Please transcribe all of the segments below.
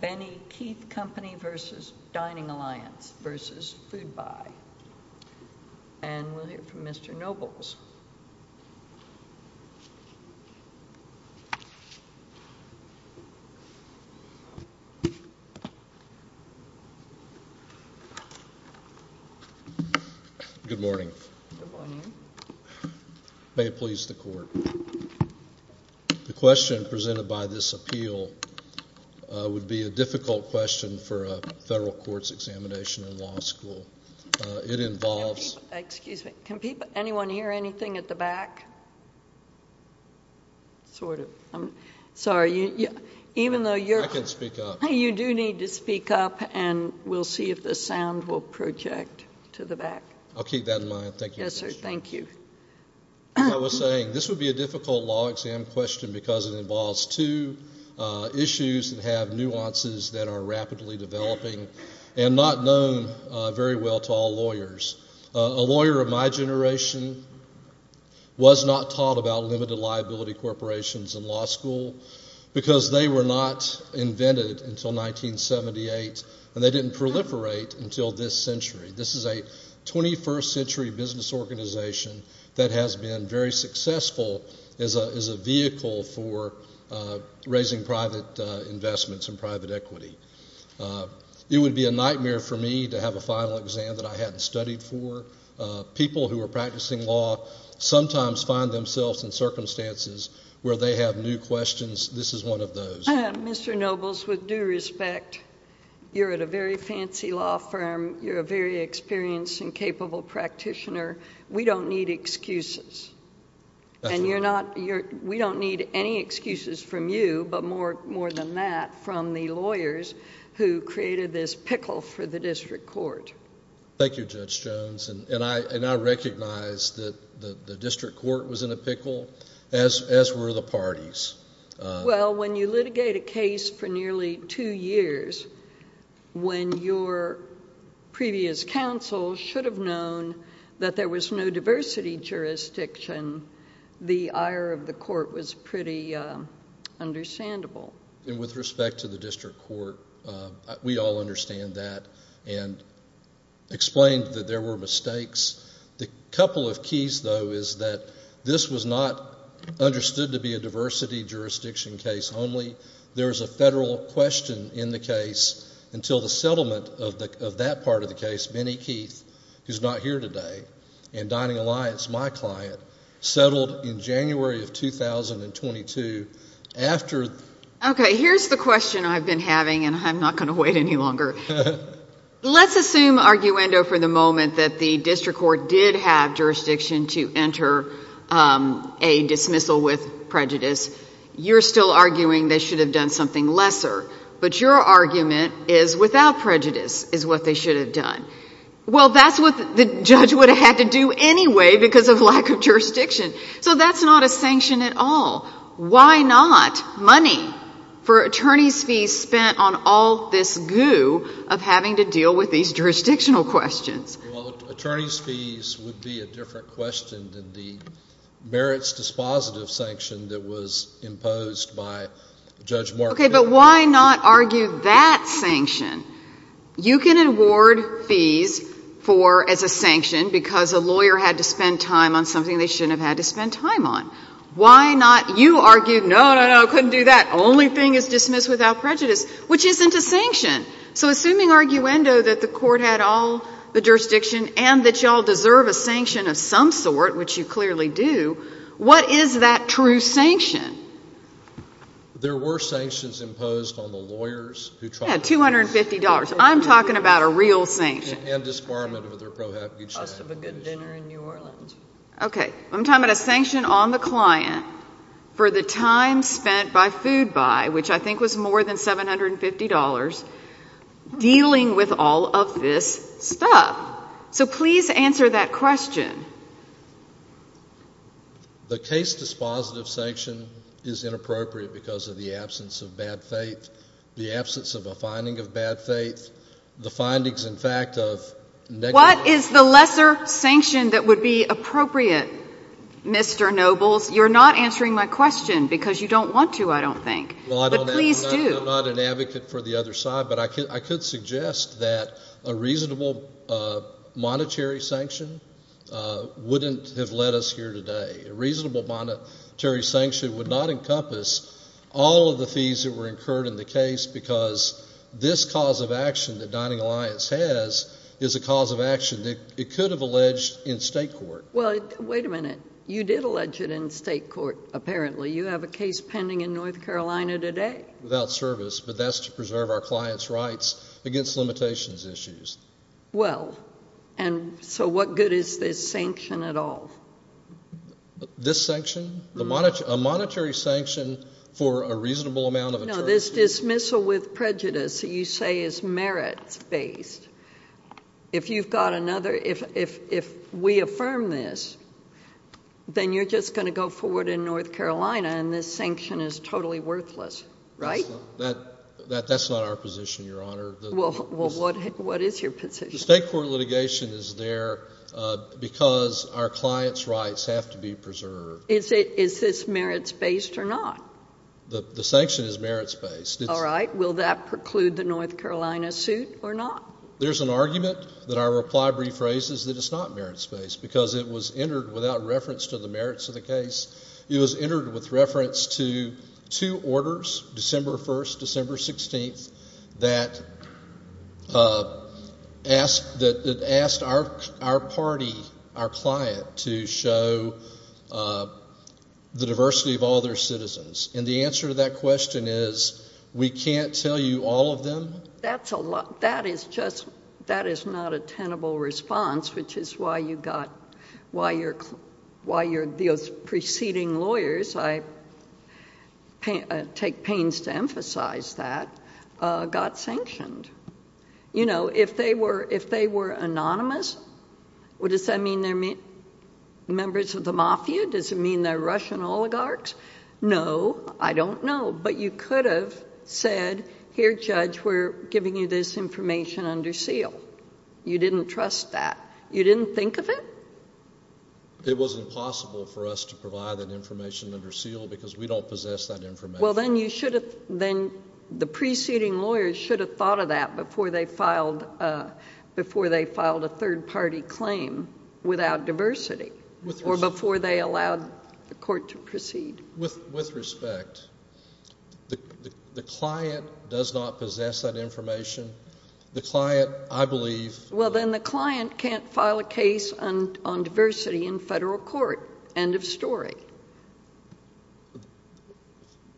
Benny Keith Company v. Dining Alliance v. Foodbuy And we'll hear from Mr. Nobles. Good morning. May it please the court. The question presented by this appeal would be a difficult question for a federal courts examination in law school. It involves. Excuse me. Can anyone hear anything at the back? Sort of. I'm sorry. Even though you're. I can speak up. You do need to speak up and we'll see if the sound will project to the back. I'll keep that in mind. Thank you. Yes, sir. Thank you. I was saying this would be a difficult law exam question because it involves two issues that have nuances that are rapidly developing and not known very well to all lawyers. A lawyer of my generation was not taught about limited liability corporations in law school because they were not invented until 1978. And they didn't proliferate until this century. This is a 21st century business organization that has been very successful as a vehicle for raising private investments and private equity. It would be a nightmare for me to have a final exam that I hadn't studied for. People who are practicing law sometimes find themselves in circumstances where they have new questions. This is one of those. Mr. Nobles, with due respect, you're at a very fancy law firm. You're a very experienced and capable practitioner. We don't need excuses. And you're not. We don't need any excuses from you, but more more than that, from the lawyers who created this pickle for the district court. Thank you, Judge Jones. And I recognize that the district court was in a pickle, as were the parties. Well, when you litigate a case for nearly two years, when your previous counsel should have known that there was no diversity jurisdiction, the ire of the court was pretty understandable. And with respect to the district court, we all understand that and explained that there were mistakes. The couple of keys, though, is that this was not understood to be a diversity jurisdiction case only. There is a federal question in the case until the settlement of that part of the case, Minnie Keith, who's not here today, and Dining Alliance, my client, settled in January of 2022. OK, here's the question I've been having, and I'm not going to wait any longer. Let's assume, arguendo for the moment, that the district court did have jurisdiction to enter a dismissal with prejudice. You're still arguing they should have done something lesser, but your argument is without prejudice is what they should have done. Well, that's what the judge would have had to do anyway because of lack of jurisdiction. So that's not a sanction at all. Why not money for attorney's fees spent on all this goo of having to deal with these jurisdictional questions? Well, attorney's fees would be a different question than the merits dispositive sanction that was imposed by Judge Martin. OK, but why not argue that sanction? You can award fees for as a sanction because a lawyer had to spend time on something they shouldn't have had to spend time on. Why not you argue, no, no, no, couldn't do that, only thing is dismiss without prejudice, which isn't a sanction. So assuming, arguendo, that the court had all the jurisdiction and that you all deserve a sanction of some sort, which you clearly do, what is that true sanction? There were sanctions imposed on the lawyers who tried to do this. Yeah, $250. I'm talking about a real sanction. And disbarment of their prohibitive action. Cost of a good dinner in New Orleans. OK, I'm talking about a sanction on the client for the time spent by food buy, which I think was more than $750, dealing with all of this stuff. So please answer that question. The case dispositive sanction is inappropriate because of the absence of bad faith, the absence of a finding of bad faith, the findings, in fact, of negative... What is the lesser sanction that would be appropriate, Mr. Nobles? You're not answering my question because you don't want to, I don't think, but please do. I'm not an advocate for the other side, but I could suggest that a reasonable monetary sanction wouldn't have led us here today. A reasonable monetary sanction would not encompass all of the fees that were incurred in the case because this cause of action that Dining Alliance has is a cause of action that it could have alleged in state court. Well, wait a minute. You did allege it in state court, apparently. You have a case pending in North Carolina today. Without service, but that's to preserve our clients' rights against limitations issues. Well, and so what good is this sanction at all? This sanction? A monetary sanction for a reasonable amount of... No, this dismissal with prejudice you say is merits-based. If you've got another, if we affirm this, then you're just going to go forward in North Carolina and this sanction is totally worthless, right? That's not our position, Your Honor. Well, what is your position? The state court litigation is there because our clients' rights have to be preserved. Is this merits-based or not? The sanction is merits-based. All right. Will that preclude the North Carolina suit or not? There's an argument that our reply rephrases that it's not merits-based because it was entered without reference to the merits of the case. It was entered with reference to two orders, December 1st, December 16th, that asked our party, our client, to show the diversity of all their citizens. And the answer to that question is we can't tell you all of them? That is not a tenable response, which is why your preceding lawyers, I take pains to emphasize that, got sanctioned. If they were anonymous, does that mean they're members of the mafia? Does it mean they're Russian oligarchs? No. I don't know. But you could have said, here, Judge, we're giving you this information under seal. You didn't trust that. You didn't think of it? It wasn't possible for us to provide that information under seal because we don't possess that information. Well, then you should have – then the preceding lawyers should have thought of that before they filed a third-party claim without diversity or before they allowed the court to proceed. With respect, the client does not possess that information. The client, I believe – Well, then the client can't file a case on diversity in federal court. End of story.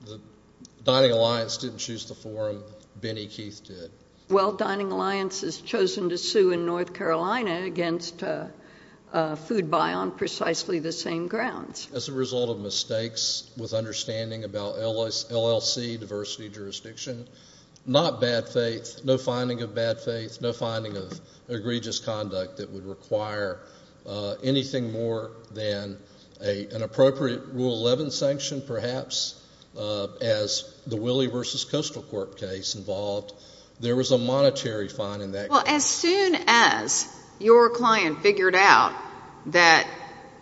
The Dining Alliance didn't choose the forum. Benny Keith did. Well, Dining Alliance has chosen to sue in North Carolina against Food Buy on precisely the same grounds. As a result of mistakes with understanding about LLC diversity jurisdiction, not bad faith, no finding of bad faith, no finding of egregious conduct that would require anything more than an appropriate Rule 11 sanction, perhaps, as the Willie v. Coastal Corp case involved. There was a monetary fine in that case. Well, as soon as your client figured out that,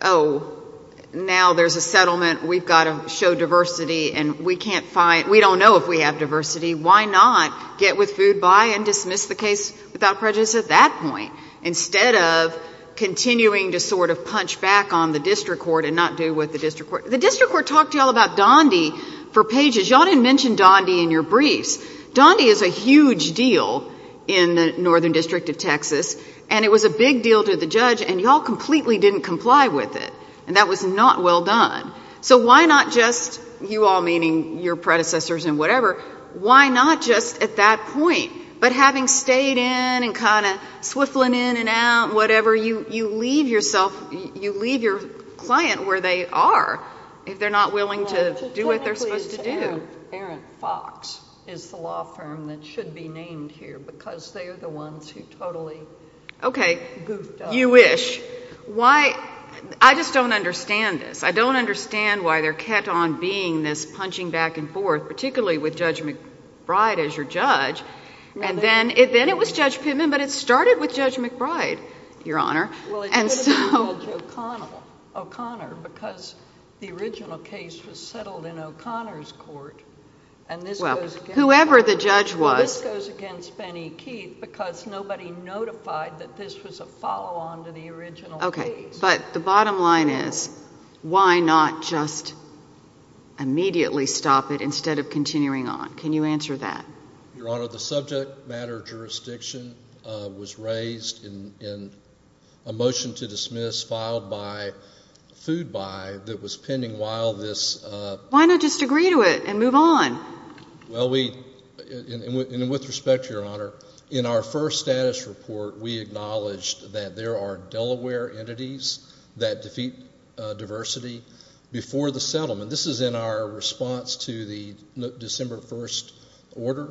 oh, now there's a settlement. We've got to show diversity, and we can't find – we don't know if we have diversity. Why not get with Food Buy and dismiss the case without prejudice at that point instead of continuing to sort of punch back on the district court and not do what the district court – The district court talked to you all about Donde for pages. You all didn't mention Donde in your briefs. Donde is a huge deal in the Northern District of Texas, and it was a big deal to the judge, and you all completely didn't comply with it, and that was not well done. So why not just – you all meaning your predecessors and whatever – why not just at that point, but having stayed in and kind of swiveling in and out, whatever, you leave yourself – you leave your client where they are if they're not willing to do what they're supposed to do. I think Aaron Fox is the law firm that should be named here because they are the ones who totally goofed up. Okay, you wish. Why – I just don't understand this. I don't understand why they're kept on being this punching back and forth, particularly with Judge McBride as your judge. And then it was Judge Pittman, but it started with Judge McBride, Your Honor. Well, it could have been Judge O'Connor because the original case was settled in O'Connor's court, and this goes against – Well, whoever the judge was – Well, this goes against Benny Keith because nobody notified that this was a follow-on to the original case. Okay, but the bottom line is why not just immediately stop it instead of continuing on? Can you answer that? Your Honor, the subject matter jurisdiction was raised in a motion to dismiss filed by Food Buy that was pending while this – Why not just agree to it and move on? Well, we – and with respect, Your Honor, in our first status report, we acknowledged that there are Delaware entities that defeat diversity before the settlement. This is in our response to the December 1st order.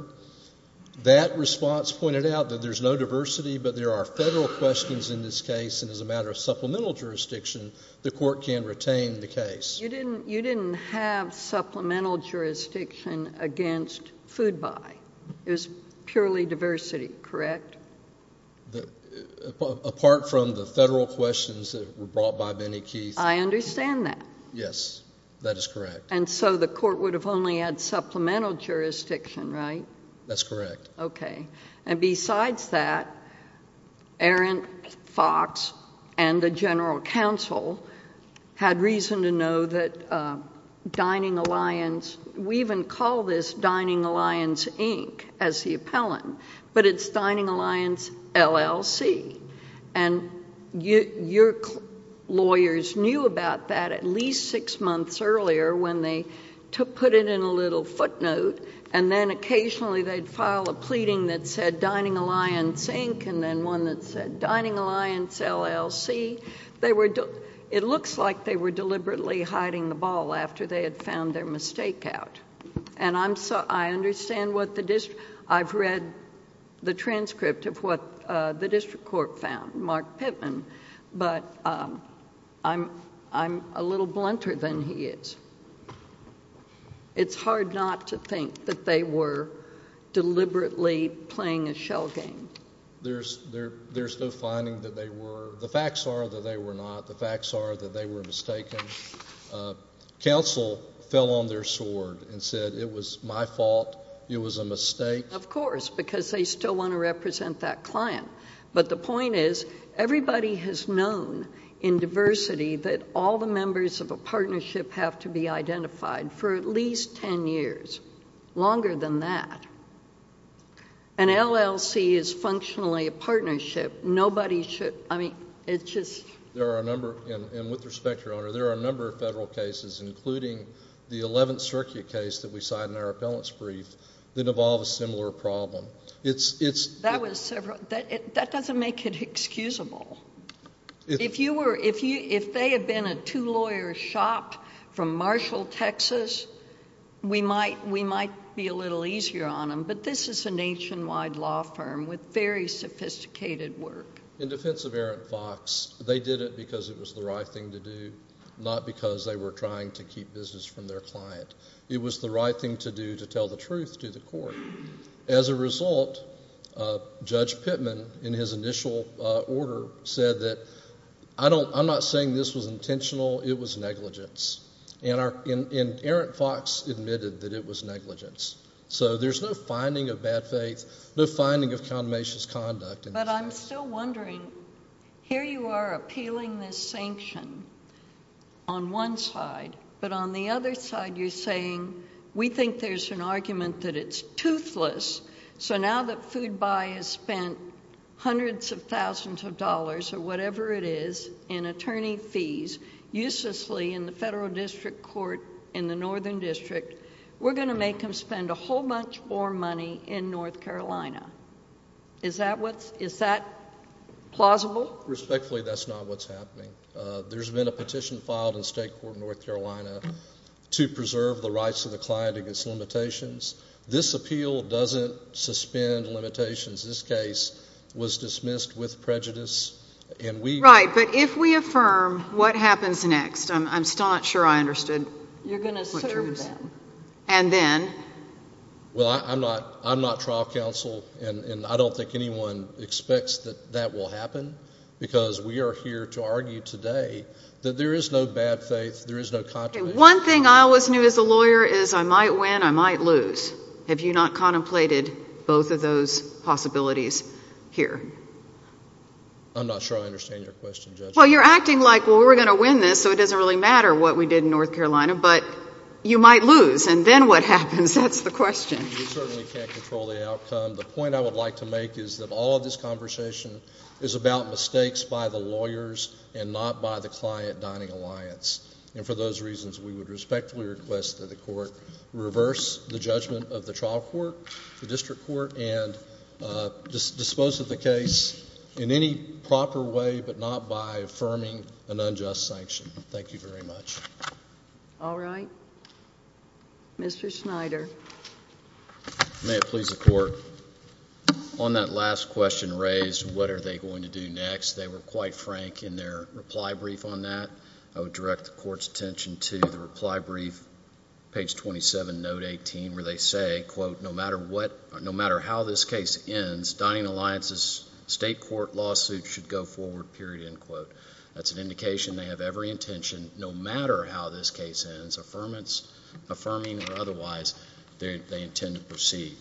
That response pointed out that there's no diversity, but there are federal questions in this case, and as a matter of supplemental jurisdiction, the court can retain the case. You didn't have supplemental jurisdiction against Food Buy. It was purely diversity, correct? Apart from the federal questions that were brought by Benny Keith. I understand that. Yes, that is correct. And so the court would have only had supplemental jurisdiction, right? That's correct. Okay. And besides that, Aaron Fox and the general counsel had reason to know that Dining Alliance – we even call this Dining Alliance, Inc. as the appellant, but it's Dining Alliance, LLC. And your lawyers knew about that at least six months earlier when they put it in a little footnote, and then occasionally they'd file a pleading that said Dining Alliance, Inc., and then one that said Dining Alliance, LLC. It looks like they were deliberately hiding the ball after they had found their mistake out. And I understand what the district – I've read the transcript of what the district court found, Mark Pittman, but I'm a little blunter than he is. It's hard not to think that they were deliberately playing a shell game. There's no finding that they were. The facts are that they were not. The facts are that they were mistaken. Counsel fell on their sword and said it was my fault, it was a mistake. Of course, because they still want to represent that client. But the point is everybody has known in diversity that all the members of a partnership have to be identified for at least 10 years, longer than that. An LLC is functionally a partnership. Nobody should – I mean, it's just – There are a number – and with respect, Your Honor, there are a number of federal cases, including the 11th circuit case that we signed in our appellant's brief, that involve a similar problem. That was several – that doesn't make it excusable. If you were – if they had been a two-lawyer shop from Marshall, Texas, we might be a little easier on them. But this is a nationwide law firm with very sophisticated work. In defense of Aaron Fox, they did it because it was the right thing to do, not because they were trying to keep business from their client. It was the right thing to do to tell the truth to the court. As a result, Judge Pittman, in his initial order, said that I don't – I'm not saying this was intentional. It was negligence. And Aaron Fox admitted that it was negligence. So there's no finding of bad faith, no finding of condemnation of conduct. But I'm still wondering. Here you are appealing this sanction on one side, but on the other side you're saying we think there's an argument that it's toothless. So now that Food Buy has spent hundreds of thousands of dollars or whatever it is in attorney fees uselessly in the federal district court in the Northern District, we're going to make them spend a whole bunch more money in North Carolina. Is that what's – is that plausible? Respectfully, that's not what's happening. There's been a petition filed in state court in North Carolina to preserve the rights of the client against limitations. This appeal doesn't suspend limitations. This case was dismissed with prejudice, and we – Right, but if we affirm, what happens next? I'm still not sure I understood. You're going to serve them. And then? Well, I'm not – I'm not trial counsel, and I don't think anyone expects that that will happen, because we are here to argue today that there is no bad faith, there is no condemnation. One thing I always knew as a lawyer is I might win, I might lose. Have you not contemplated both of those possibilities here? I'm not sure I understand your question, Judge. Well, you're acting like, well, we're going to win this, so it doesn't really matter what we did in North Carolina, but you might lose, and then what happens? That's the question. You certainly can't control the outcome. The point I would like to make is that all of this conversation is about mistakes by the lawyers and not by the client-dining alliance. And for those reasons, we would respectfully request that the court reverse the judgment of the trial court, the district court, and dispose of the case in any proper way but not by affirming an unjust sanction. Thank you very much. All right. Mr. Schneider. May it please the Court, on that last question raised, what are they going to do next, they were quite frank in their reply brief on that. I would direct the Court's attention to the reply brief, page 27, note 18, where they say, quote, no matter how this case ends, dining alliance's state court lawsuit should go forward, period, end quote. That's an indication they have every intention, no matter how this case ends, affirming or otherwise, they intend to proceed.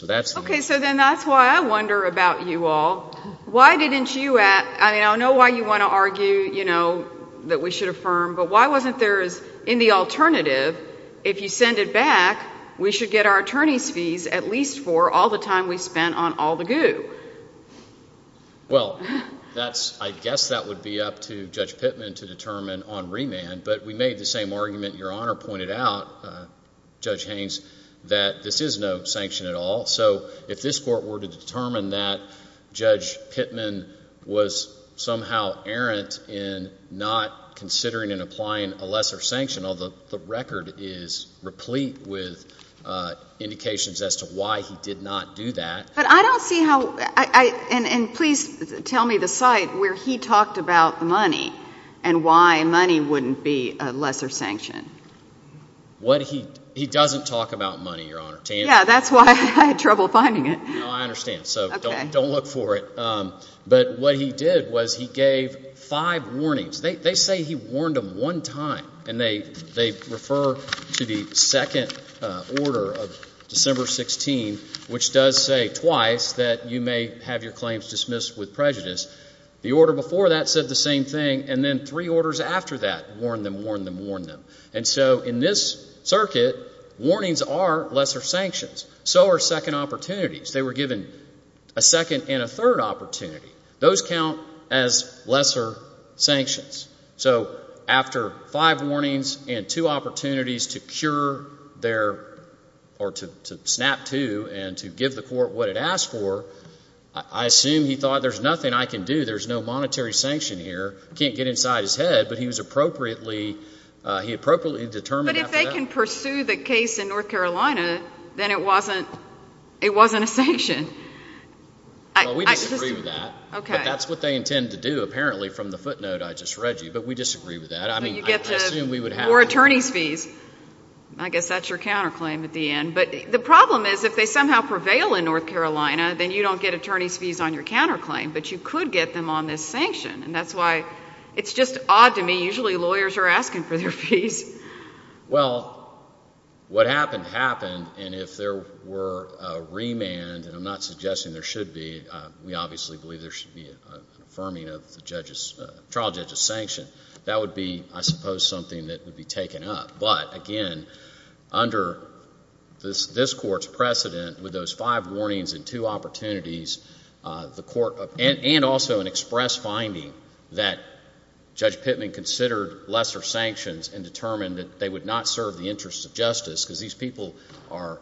Okay, so then that's why I wonder about you all. I know why you want to argue that we should affirm, but why wasn't there in the alternative, if you send it back, we should get our attorneys' fees at least for all the time we spent on all the goo? Well, I guess that would be up to Judge Pittman to determine on remand, but we made the same argument your Honor pointed out, Judge Haynes, that this is no sanction at all. So if this Court were to determine that Judge Pittman was somehow errant in not considering and applying a lesser sanction, although the record is replete with indications as to why he did not do that. But I don't see how, and please tell me the site where he talked about money and why money wouldn't be a lesser sanction. He doesn't talk about money, your Honor. Yeah, that's why I had trouble finding it. No, I understand, so don't look for it. But what he did was he gave five warnings. They say he warned them one time, and they refer to the second order of December 16, which does say twice that you may have your claims dismissed with prejudice. The order before that said the same thing, and then three orders after that warn them, warn them, warn them. And so in this circuit, warnings are lesser sanctions. So are second opportunities. They were given a second and a third opportunity. Those count as lesser sanctions. So after five warnings and two opportunities to snap to and to give the court what it asked for, I assume he thought there's nothing I can do, there's no monetary sanction here, can't get inside his head, but he was appropriately determined after that. But if they can pursue the case in North Carolina, then it wasn't a sanction. Well, we disagree with that. But that's what they intend to do, apparently, from the footnote I just read you. But we disagree with that. I mean, I assume we would have to. Or attorney's fees. I guess that's your counterclaim at the end. But the problem is if they somehow prevail in North Carolina, then you don't get attorney's fees on your counterclaim, but you could get them on this sanction. And that's why it's just odd to me. Usually lawyers are asking for their fees. Well, what happened happened, and if there were a remand, and I'm not suggesting there should be, we obviously believe there should be an affirming of the trial judge's sanction, that would be, I suppose, something that would be taken up. But, again, under this court's precedent, with those five warnings and two opportunities, and also an express finding that Judge Pittman considered lesser sanctions and determined that they would not serve the interests of justice, because these people are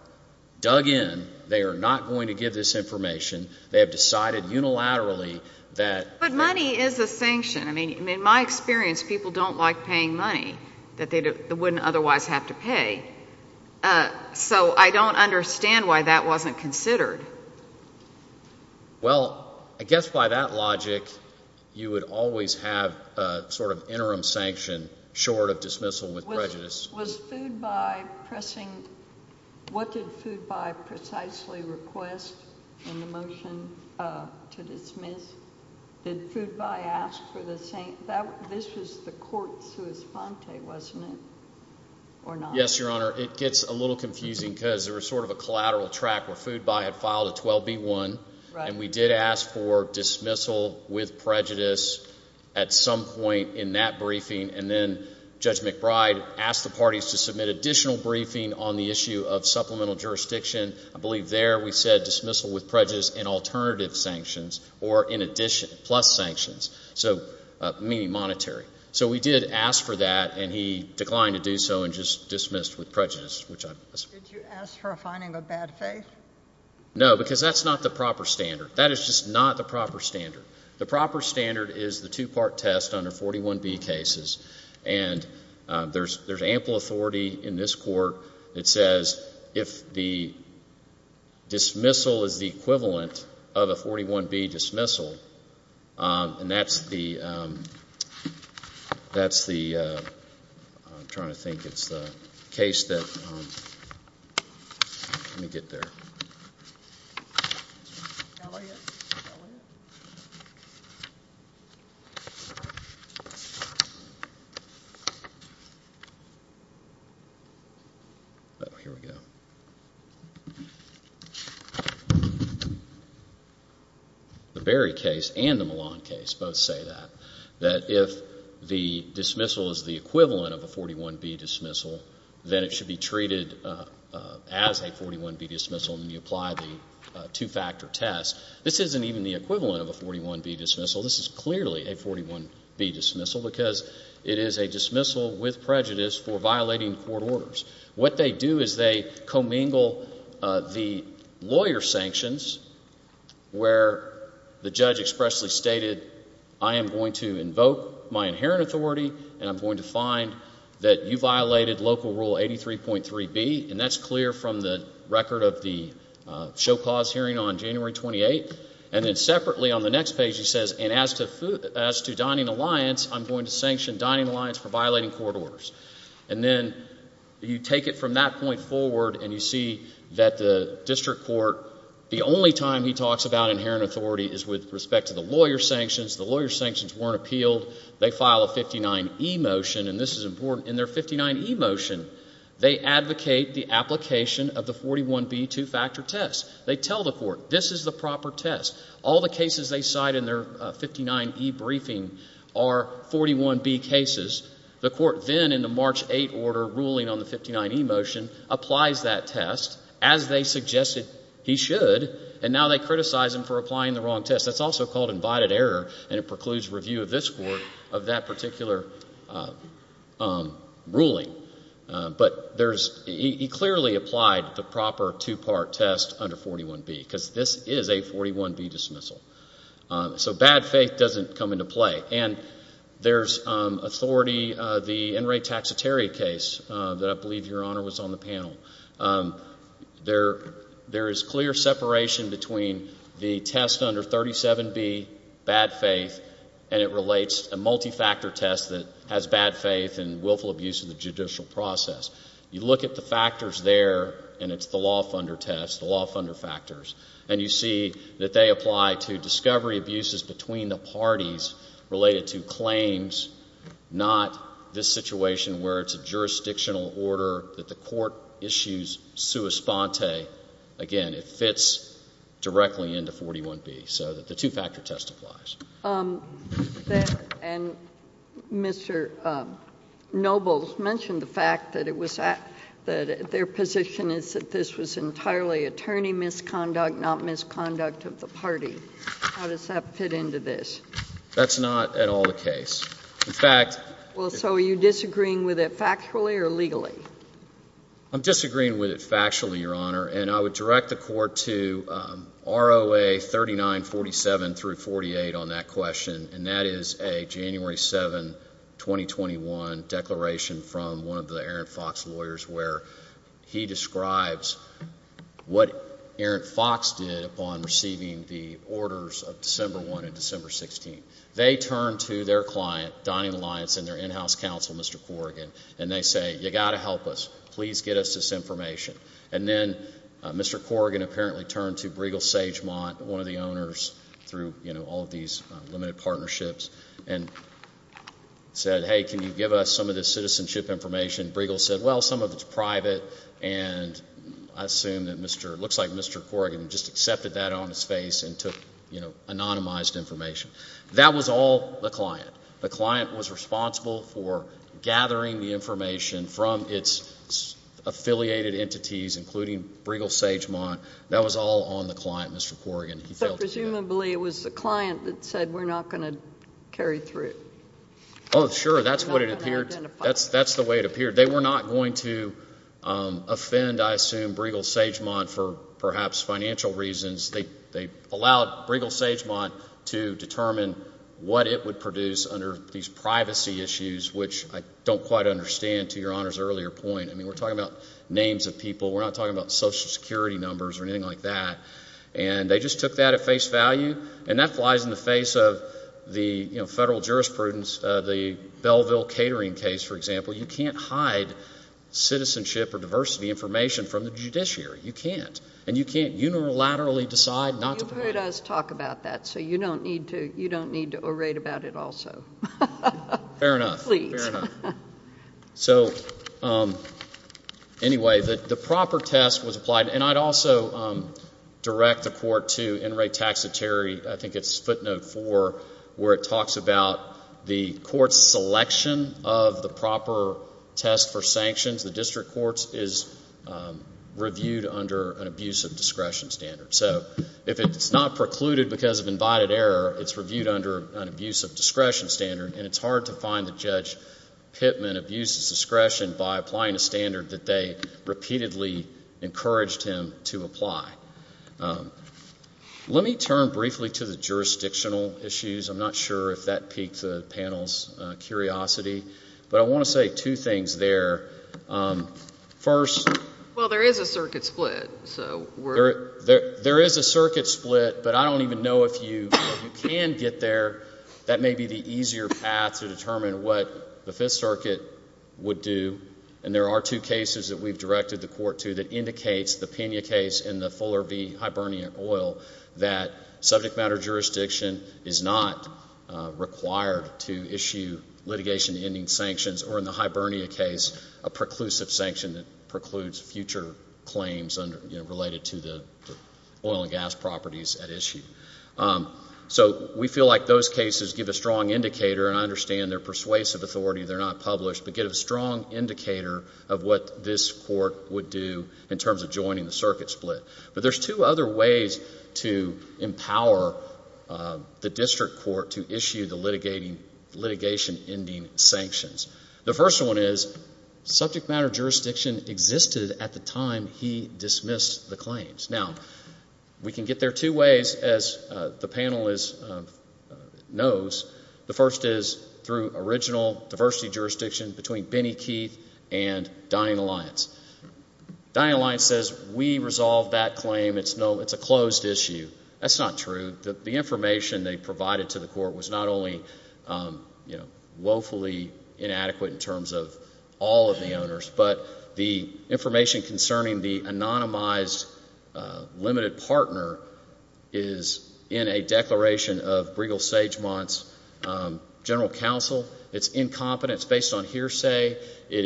dug in, they are not going to give this information, they have decided unilaterally that. But money is a sanction. I mean, in my experience, people don't like paying money that they wouldn't otherwise have to pay. So I don't understand why that wasn't considered. Well, I guess by that logic, you would always have sort of interim sanction short of dismissal with prejudice. Was Foodbuy pressing? What did Foodbuy precisely request in the motion to dismiss? Did Foodbuy ask for the same? This was the court's response, wasn't it, or not? Yes, Your Honor. It gets a little confusing because there was sort of a collateral track where Foodbuy had filed a 12B1, and we did ask for dismissal with prejudice at some point in that briefing, and then Judge McBride asked the parties to submit additional briefing on the issue of supplemental jurisdiction. I believe there we said dismissal with prejudice and alternative sanctions or plus sanctions, meaning monetary. So we did ask for that, and he declined to do so and just dismissed with prejudice. Did you ask for a finding of bad faith? No, because that's not the proper standard. That is just not the proper standard. The proper standard is the two-part test under 41B cases, and there's ample authority in this court that says if the dismissal is the equivalent of a 41B dismissal, And that's the, I'm trying to think, it's the case that, let me get there. Here we go. The Berry case and the Milan case both say that, that if the dismissal is the equivalent of a 41B dismissal, then it should be treated as a 41B dismissal and you apply the two-factor test. This isn't even the equivalent of a 41B dismissal. This is clearly a 41B dismissal because it is a dismissal with prejudice for violating court orders. What they do is they commingle the lawyer sanctions where the judge expressly stated, I am going to invoke my inherent authority and I'm going to find that you violated local rule 83.3B, and that's clear from the record of the show-cause hearing on January 28th. And then separately on the next page he says, and as to dining alliance, I'm going to sanction dining alliance for violating court orders. And then you take it from that point forward and you see that the district court, the only time he talks about inherent authority is with respect to the lawyer sanctions. The lawyer sanctions weren't appealed. They file a 59E motion, and this is important. In their 59E motion, they advocate the application of the 41B two-factor test. They tell the court, this is the proper test. All the cases they cite in their 59E briefing are 41B cases. The court then in the March 8 order ruling on the 59E motion applies that test, as they suggested he should, and now they criticize him for applying the wrong test. That's also called invited error, and it precludes review of this court of that particular ruling. But he clearly applied the proper two-part test under 41B because this is a 41B dismissal. So bad faith doesn't come into play. And there's authority, the in-rate taxitaria case that I believe, Your Honor, was on the panel. There is clear separation between the test under 37B, bad faith, and it relates a multi-factor test that has bad faith and willful abuse of the judicial process. You look at the factors there, and it's the law funder test, the law funder factors, and you see that they apply to discovery abuses between the parties related to claims, not this situation where it's a jurisdictional order that the court issues sua sponte. Again, it fits directly into 41B. So the two-factor test applies. And Mr. Noble mentioned the fact that their position is that this was entirely attorney misconduct, not misconduct of the party. How does that fit into this? That's not at all the case. In fact— Well, so are you disagreeing with it factually or legally? I'm disagreeing with it factually, Your Honor, and I would direct the court to ROA 3947-48 on that question, and that is a January 7, 2021, declaration from one of the Aaron Fox lawyers where he describes what Aaron Fox did upon receiving the orders of December 1 and December 16. They turned to their client, Donning Alliance, and their in-house counsel, Mr. Corrigan, and they say, You've got to help us. Please get us this information. And then Mr. Corrigan apparently turned to Bregel Sagemont, one of the owners through all of these limited partnerships, and said, Hey, can you give us some of this citizenship information? Bregel said, Well, some of it's private, and I assume that it looks like Mr. Corrigan just accepted that on his face That was all the client. The client was responsible for gathering the information from its affiliated entities, including Bregel Sagemont. That was all on the client, Mr. Corrigan. But presumably it was the client that said, We're not going to carry through. Oh, sure. That's the way it appeared. They were not going to offend, I assume, Bregel Sagemont for perhaps financial reasons. They allowed Bregel Sagemont to determine what it would produce under these privacy issues, which I don't quite understand, to Your Honor's earlier point. I mean, we're talking about names of people. We're not talking about Social Security numbers or anything like that. And they just took that at face value, and that flies in the face of the federal jurisprudence, the Belleville Catering case, for example. You can't hide citizenship or diversity information from the judiciary. You can't. You've heard us talk about that, so you don't need to orate about it also. Fair enough. Please. Fair enough. So, anyway, the proper test was applied. And I'd also direct the court to NRA Taxitary, I think it's footnote four, where it talks about the court's selection of the proper test for sanctions. The district court is reviewed under an abuse of discretion standard. So if it's not precluded because of invited error, it's reviewed under an abuse of discretion standard, and it's hard to find that Judge Pittman abused his discretion by applying a standard that they repeatedly encouraged him to apply. Let me turn briefly to the jurisdictional issues. I'm not sure if that piqued the panel's curiosity, but I want to say two things there. First... Well, there is a circuit split, so we're... There is a circuit split, but I don't even know if you can get there. That may be the easier path to determine what the Fifth Circuit would do. And there are two cases that we've directed the court to that indicates the Pena case and the Fuller v. Hibernia Oil that subject matter jurisdiction is not required to issue litigation ending sanctions, or in the Hibernia case, a preclusive sanction that precludes future claims related to the oil and gas properties at issue. So we feel like those cases give a strong indicator, and I understand they're persuasive authority, they're not published, but give a strong indicator of what this court would do in terms of joining the circuit split. But there's two other ways to empower the district court to issue the litigation ending sanctions. The first one is subject matter jurisdiction existed at the time he dismissed the claims. Now, we can get there two ways, as the panel knows. The first is through original diversity jurisdiction between Benny Keith and Dining Alliance. Dining Alliance says, we resolved that claim. It's a closed issue. That's not true. The information they provided to the court was not only woefully inadequate in terms of all of the owners, but the information concerning the anonymized limited partner is in a declaration of Bregel Sagemont's general counsel. It's incompetent. It's based on hearsay. It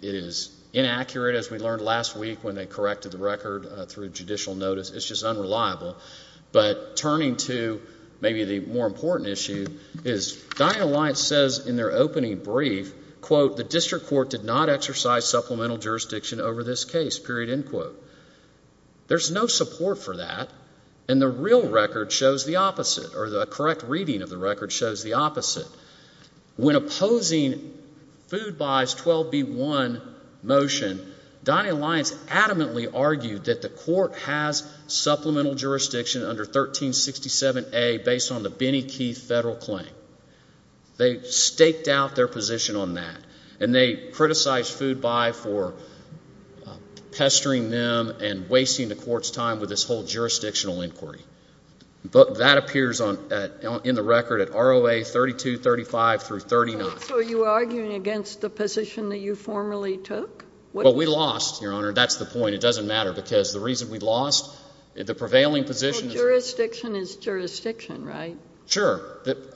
is inaccurate, as we learned last week when they corrected the record through judicial notice. It's just unreliable. But turning to maybe the more important issue is Dining Alliance says in their opening brief, quote, the district court did not exercise supplemental jurisdiction over this case, period, end quote. There's no support for that, and the real record shows the opposite, or the correct reading of the record shows the opposite. When opposing Food Buy's 12B1 motion, Dining Alliance adamantly argued that the court has supplemental jurisdiction under 1367A based on the Benny Keith federal claim. They staked out their position on that, and they criticized Food Buy for pestering them and wasting the court's time with this whole jurisdictional inquiry. But that appears in the record at ROA 3235 through 39. So are you arguing against the position that you formerly took? Well, we lost, Your Honor. That's the point. It doesn't matter because the reason we lost, the prevailing position is— Well, jurisdiction is jurisdiction, right? Sure.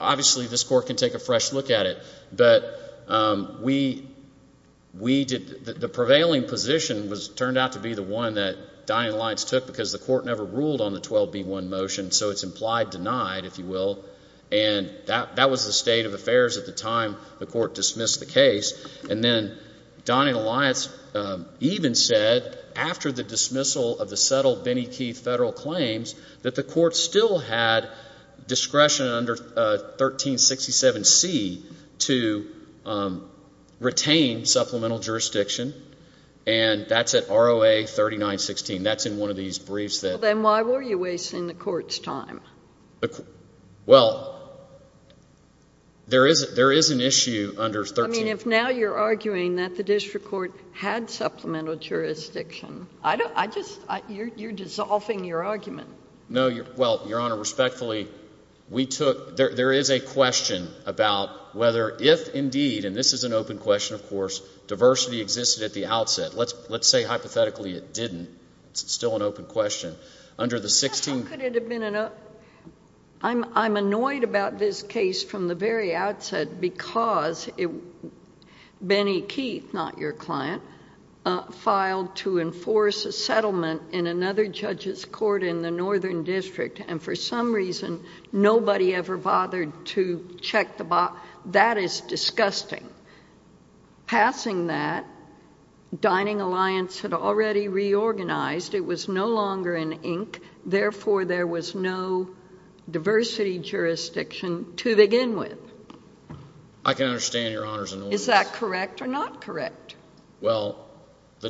Obviously, this court can take a fresh look at it, but the prevailing position turned out to be the one that Dining Alliance took because the court never ruled on the 12B1 motion, so it's implied denied, if you will, and that was the state of affairs at the time the court dismissed the case. And then Dining Alliance even said after the dismissal of the settled Benny Keith federal claims that the court still had discretion under 1367C to retain supplemental jurisdiction, and that's at ROA 3916. That's in one of these briefs that— Well, then why were you wasting the court's time? Well, there is an issue under 13— I mean, if now you're arguing that the district court had supplemental jurisdiction, I just—you're dissolving your argument. No, well, Your Honor, respectfully, we took—there is a question about whether if indeed, and this is an open question, of course, diversity existed at the outset. Let's say hypothetically it didn't. It's still an open question. Under the 16— How could it have been an—I'm annoyed about this case from the very outset because Benny Keith, not your client, filed to enforce a settlement in another judge's court in the northern district, and for some reason nobody ever bothered to check the box. That is disgusting. Passing that, Dining Alliance had already reorganized. It was no longer in ink. Therefore, there was no diversity jurisdiction to begin with. I can understand your honors and orders. Is that correct or not correct? Well, the—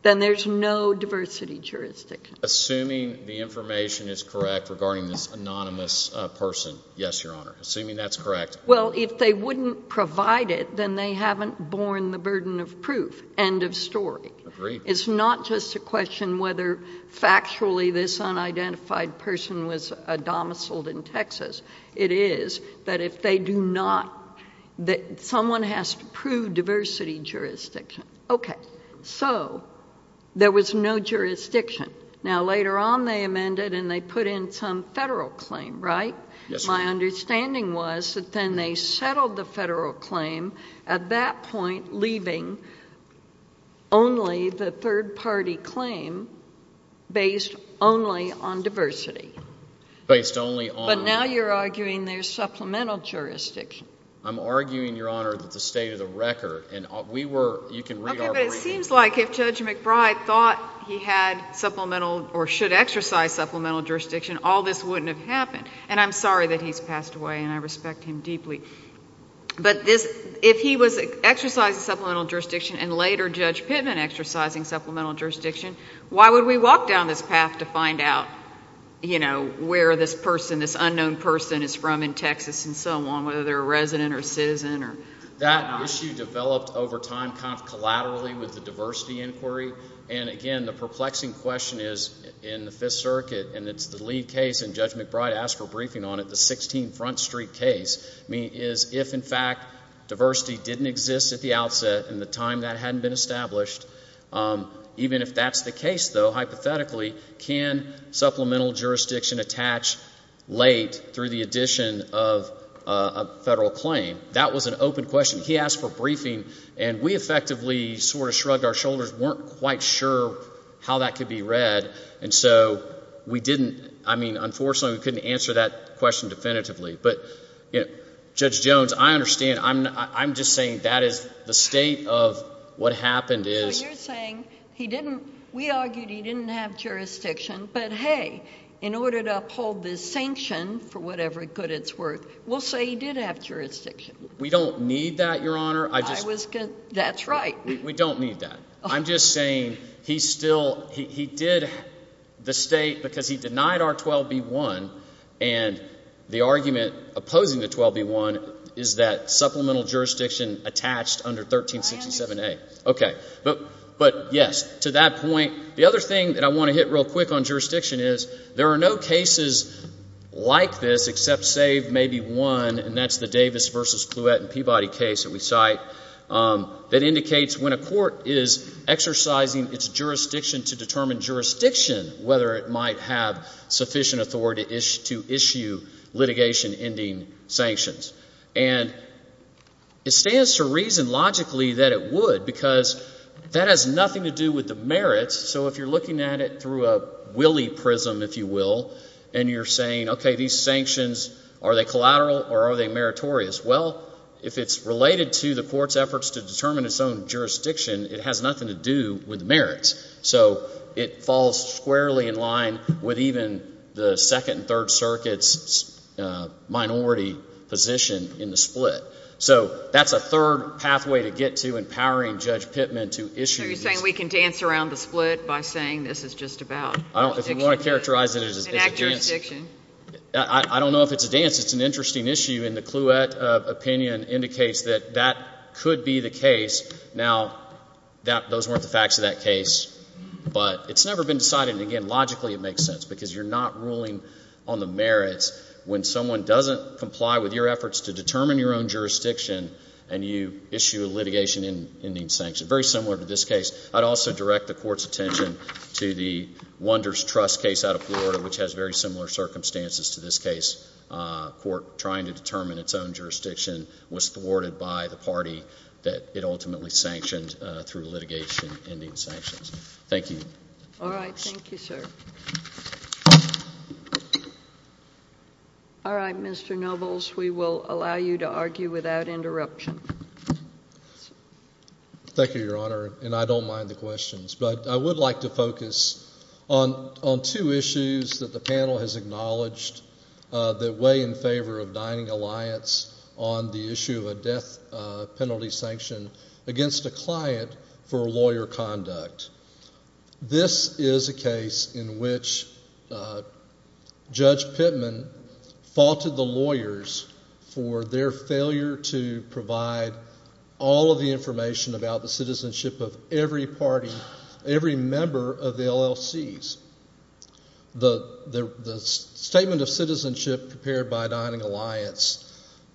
Then there's no diversity jurisdiction. Assuming the information is correct regarding this anonymous person. Yes, Your Honor. Assuming that's correct. Well, if they wouldn't provide it, then they haven't borne the burden of proof. End of story. Agreed. It's not just a question whether factually this unidentified person was a domiciled in Texas. It is that if they do not—that someone has to prove diversity jurisdiction. Okay. So, there was no jurisdiction. Now, later on they amended and they put in some federal claim, right? Yes, Your Honor. My understanding was that then they settled the federal claim, at that point leaving only the third-party claim based only on diversity. Based only on— But now you're arguing there's supplemental jurisdiction. I'm arguing, Your Honor, that the state of the record, and we were—you can read our briefing. Okay, but it seems like if Judge McBride thought he had supplemental or should exercise supplemental jurisdiction, all this wouldn't have happened. And I'm sorry that he's passed away, and I respect him deeply. But if he was exercising supplemental jurisdiction and later Judge Pittman exercising supplemental jurisdiction, why would we walk down this path to find out where this person, this unknown person is from in Texas and so on, whether they're a resident or citizen or not? That issue developed over time kind of collaterally with the diversity inquiry. And, again, the perplexing question is in the Fifth Circuit, and it's the lead case and Judge McBride asked for a briefing on it, the 16 Front Street case, is if, in fact, diversity didn't exist at the outset in the time that hadn't been established, even if that's the case, though, hypothetically, can supplemental jurisdiction attach late through the addition of a federal claim? That was an open question. He asked for a briefing, and we effectively sort of shrugged our shoulders, weren't quite sure how that could be read. And so we didn't, I mean, unfortunately, we couldn't answer that question definitively. But, Judge Jones, I understand. I'm just saying that is the state of what happened is— So you're saying he didn't—we argued he didn't have jurisdiction, but, hey, in order to uphold this sanction, for whatever good it's worth, we'll say he did have jurisdiction. We don't need that, Your Honor. I was—that's right. We don't need that. I'm just saying he still—he did—the state, because he denied our 12B1, and the argument opposing the 12B1 is that supplemental jurisdiction attached under 1367A. Okay. But, yes, to that point, the other thing that I want to hit real quick on jurisdiction is there are no cases like this, except save maybe one, and that's the Davis v. Clouette and Peabody case that we cite, that indicates when a court is exercising its jurisdiction to determine jurisdiction, whether it might have sufficient authority to issue litigation-ending sanctions. And it stands to reason, logically, that it would, because that has nothing to do with the merits. So if you're looking at it through a willy prism, if you will, and you're saying, okay, these sanctions, are they collateral or are they meritorious? Well, if it's related to the court's efforts to determine its own jurisdiction, it has nothing to do with the merits. So it falls squarely in line with even the Second and Third Circuit's minority position in the split. So that's a third pathway to get to empowering Judge Pittman to issue these— So you're saying we can dance around the split by saying this is just about jurisdiction? If you want to characterize it as a dance— An act of jurisdiction. I don't know if it's a dance. It's an interesting issue, and the Clouette opinion indicates that that could be the case. Now, those weren't the facts of that case, but it's never been decided, and, again, logically it makes sense because you're not ruling on the merits when someone doesn't comply with your efforts to determine your own jurisdiction and you issue a litigation ending sanction. Very similar to this case. I'd also direct the Court's attention to the Wonders Trust case out of Florida, which has very similar circumstances to this case. A court trying to determine its own jurisdiction was thwarted by the party that it ultimately sanctioned through litigation ending sanctions. Thank you. All right. Thank you, sir. All right, Mr. Nobles, we will allow you to argue without interruption. Thank you, Your Honor, and I don't mind the questions, but I would like to focus on two issues that the panel has acknowledged that weigh in favor of Dining Alliance on the issue of a death penalty sanction against a client for lawyer conduct. This is a case in which Judge Pittman faulted the lawyers for their failure to provide all of the information about the citizenship of every party, every member of the LLCs. The statement of citizenship prepared by Dining Alliance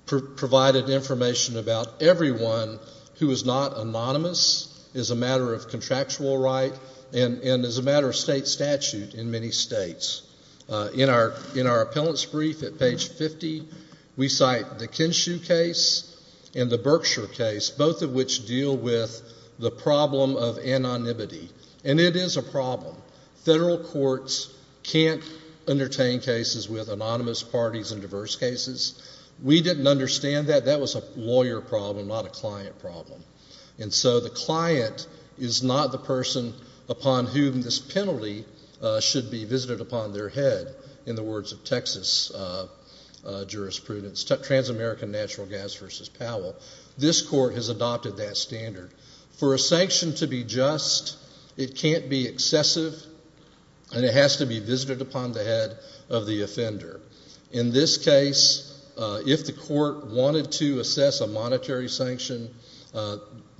provided information about everyone who is not anonymous as a matter of contractual right and as a matter of state statute in many states. In our appellant's brief at page 50, we cite the Kinshue case and the Berkshire case, both of which deal with the problem of anonymity. And it is a problem. Federal courts can't entertain cases with anonymous parties in diverse cases. We didn't understand that. That was a lawyer problem, not a client problem. And so the client is not the person upon whom this penalty should be visited upon their head, in the words of Texas jurisprudence, Trans-American Natural Gas v. Powell. This court has adopted that standard. For a sanction to be just, it can't be excessive, and it has to be visited upon the head of the offender. In this case, if the court wanted to assess a monetary sanction,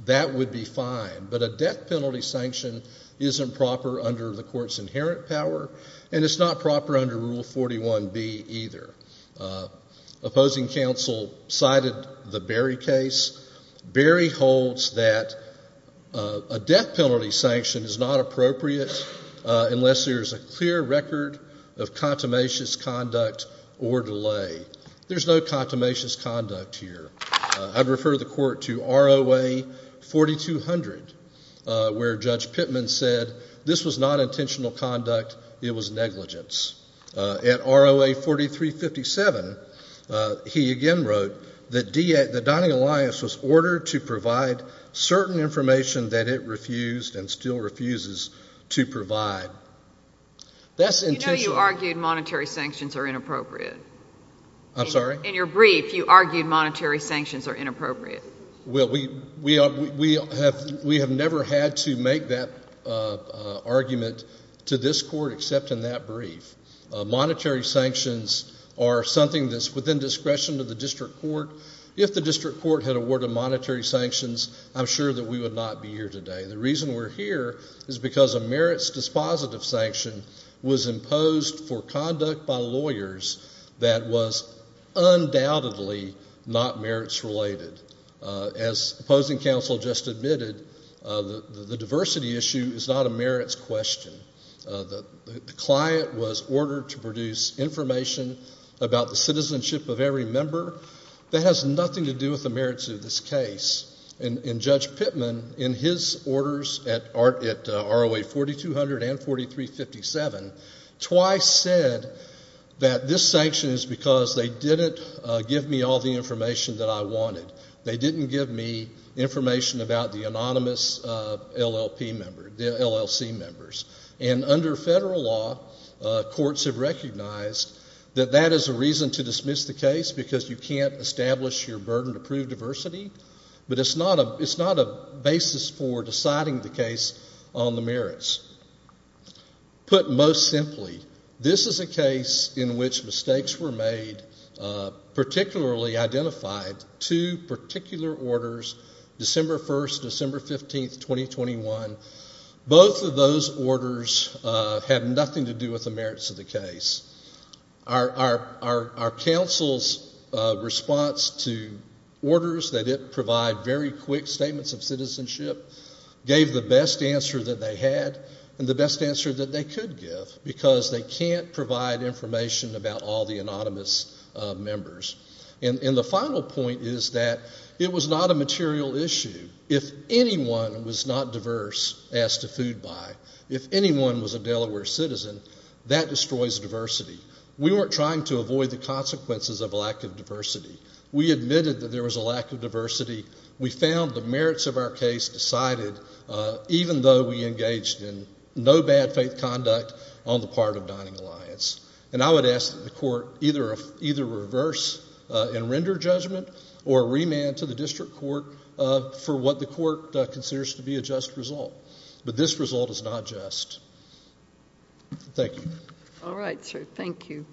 that would be fine. But a death penalty sanction isn't proper under the court's inherent power, and it's not proper under Rule 41B either. Opposing counsel cited the Berry case. Berry holds that a death penalty sanction is not appropriate unless there is a clear record of contumacious conduct or delay. There's no contumacious conduct here. I'd refer the court to ROA 4200, where Judge Pittman said this was not intentional conduct. It was negligence. At ROA 4357, he again wrote that the Dining Alliance was ordered to provide certain information that it refused and still refuses to provide. That's intentional. You know you argued monetary sanctions are inappropriate. I'm sorry? In your brief, you argued monetary sanctions are inappropriate. Well, we have never had to make that argument to this court except in that brief. Monetary sanctions are something that's within discretion of the district court. If the district court had awarded monetary sanctions, I'm sure that we would not be here today. The reason we're here is because a merits dispositive sanction was imposed for conduct by lawyers that was undoubtedly not merits related. As opposing counsel just admitted, the diversity issue is not a merits question. The client was ordered to produce information about the citizenship of every member. That has nothing to do with the merits of this case. And Judge Pittman, in his orders at ROA 4200 and 4357, twice said that this sanction is because they didn't give me all the information that I wanted. They didn't give me information about the anonymous LLC members. And under federal law, courts have recognized that that is a reason to dismiss the case because you can't establish your burden to prove diversity, but it's not a basis for deciding the case on the merits. Put most simply, this is a case in which mistakes were made, particularly identified two particular orders, December 1st, December 15th, 2021. Both of those orders have nothing to do with the merits of the case. Our counsel's response to orders that provide very quick statements of citizenship gave the best answer that they had and the best answer that they could give because they can't provide information about all the anonymous members. And the final point is that it was not a material issue. If anyone was not diverse as to food buy, if anyone was a Delaware citizen, that destroys diversity. We weren't trying to avoid the consequences of a lack of diversity. We admitted that there was a lack of diversity. We found the merits of our case decided, even though we engaged in no bad faith conduct on the part of Dining Alliance. And I would ask that the court either reverse and render judgment or remand to the district court for what the court considers to be a just result. But this result is not just. Thank you. All right, sir. Thank you.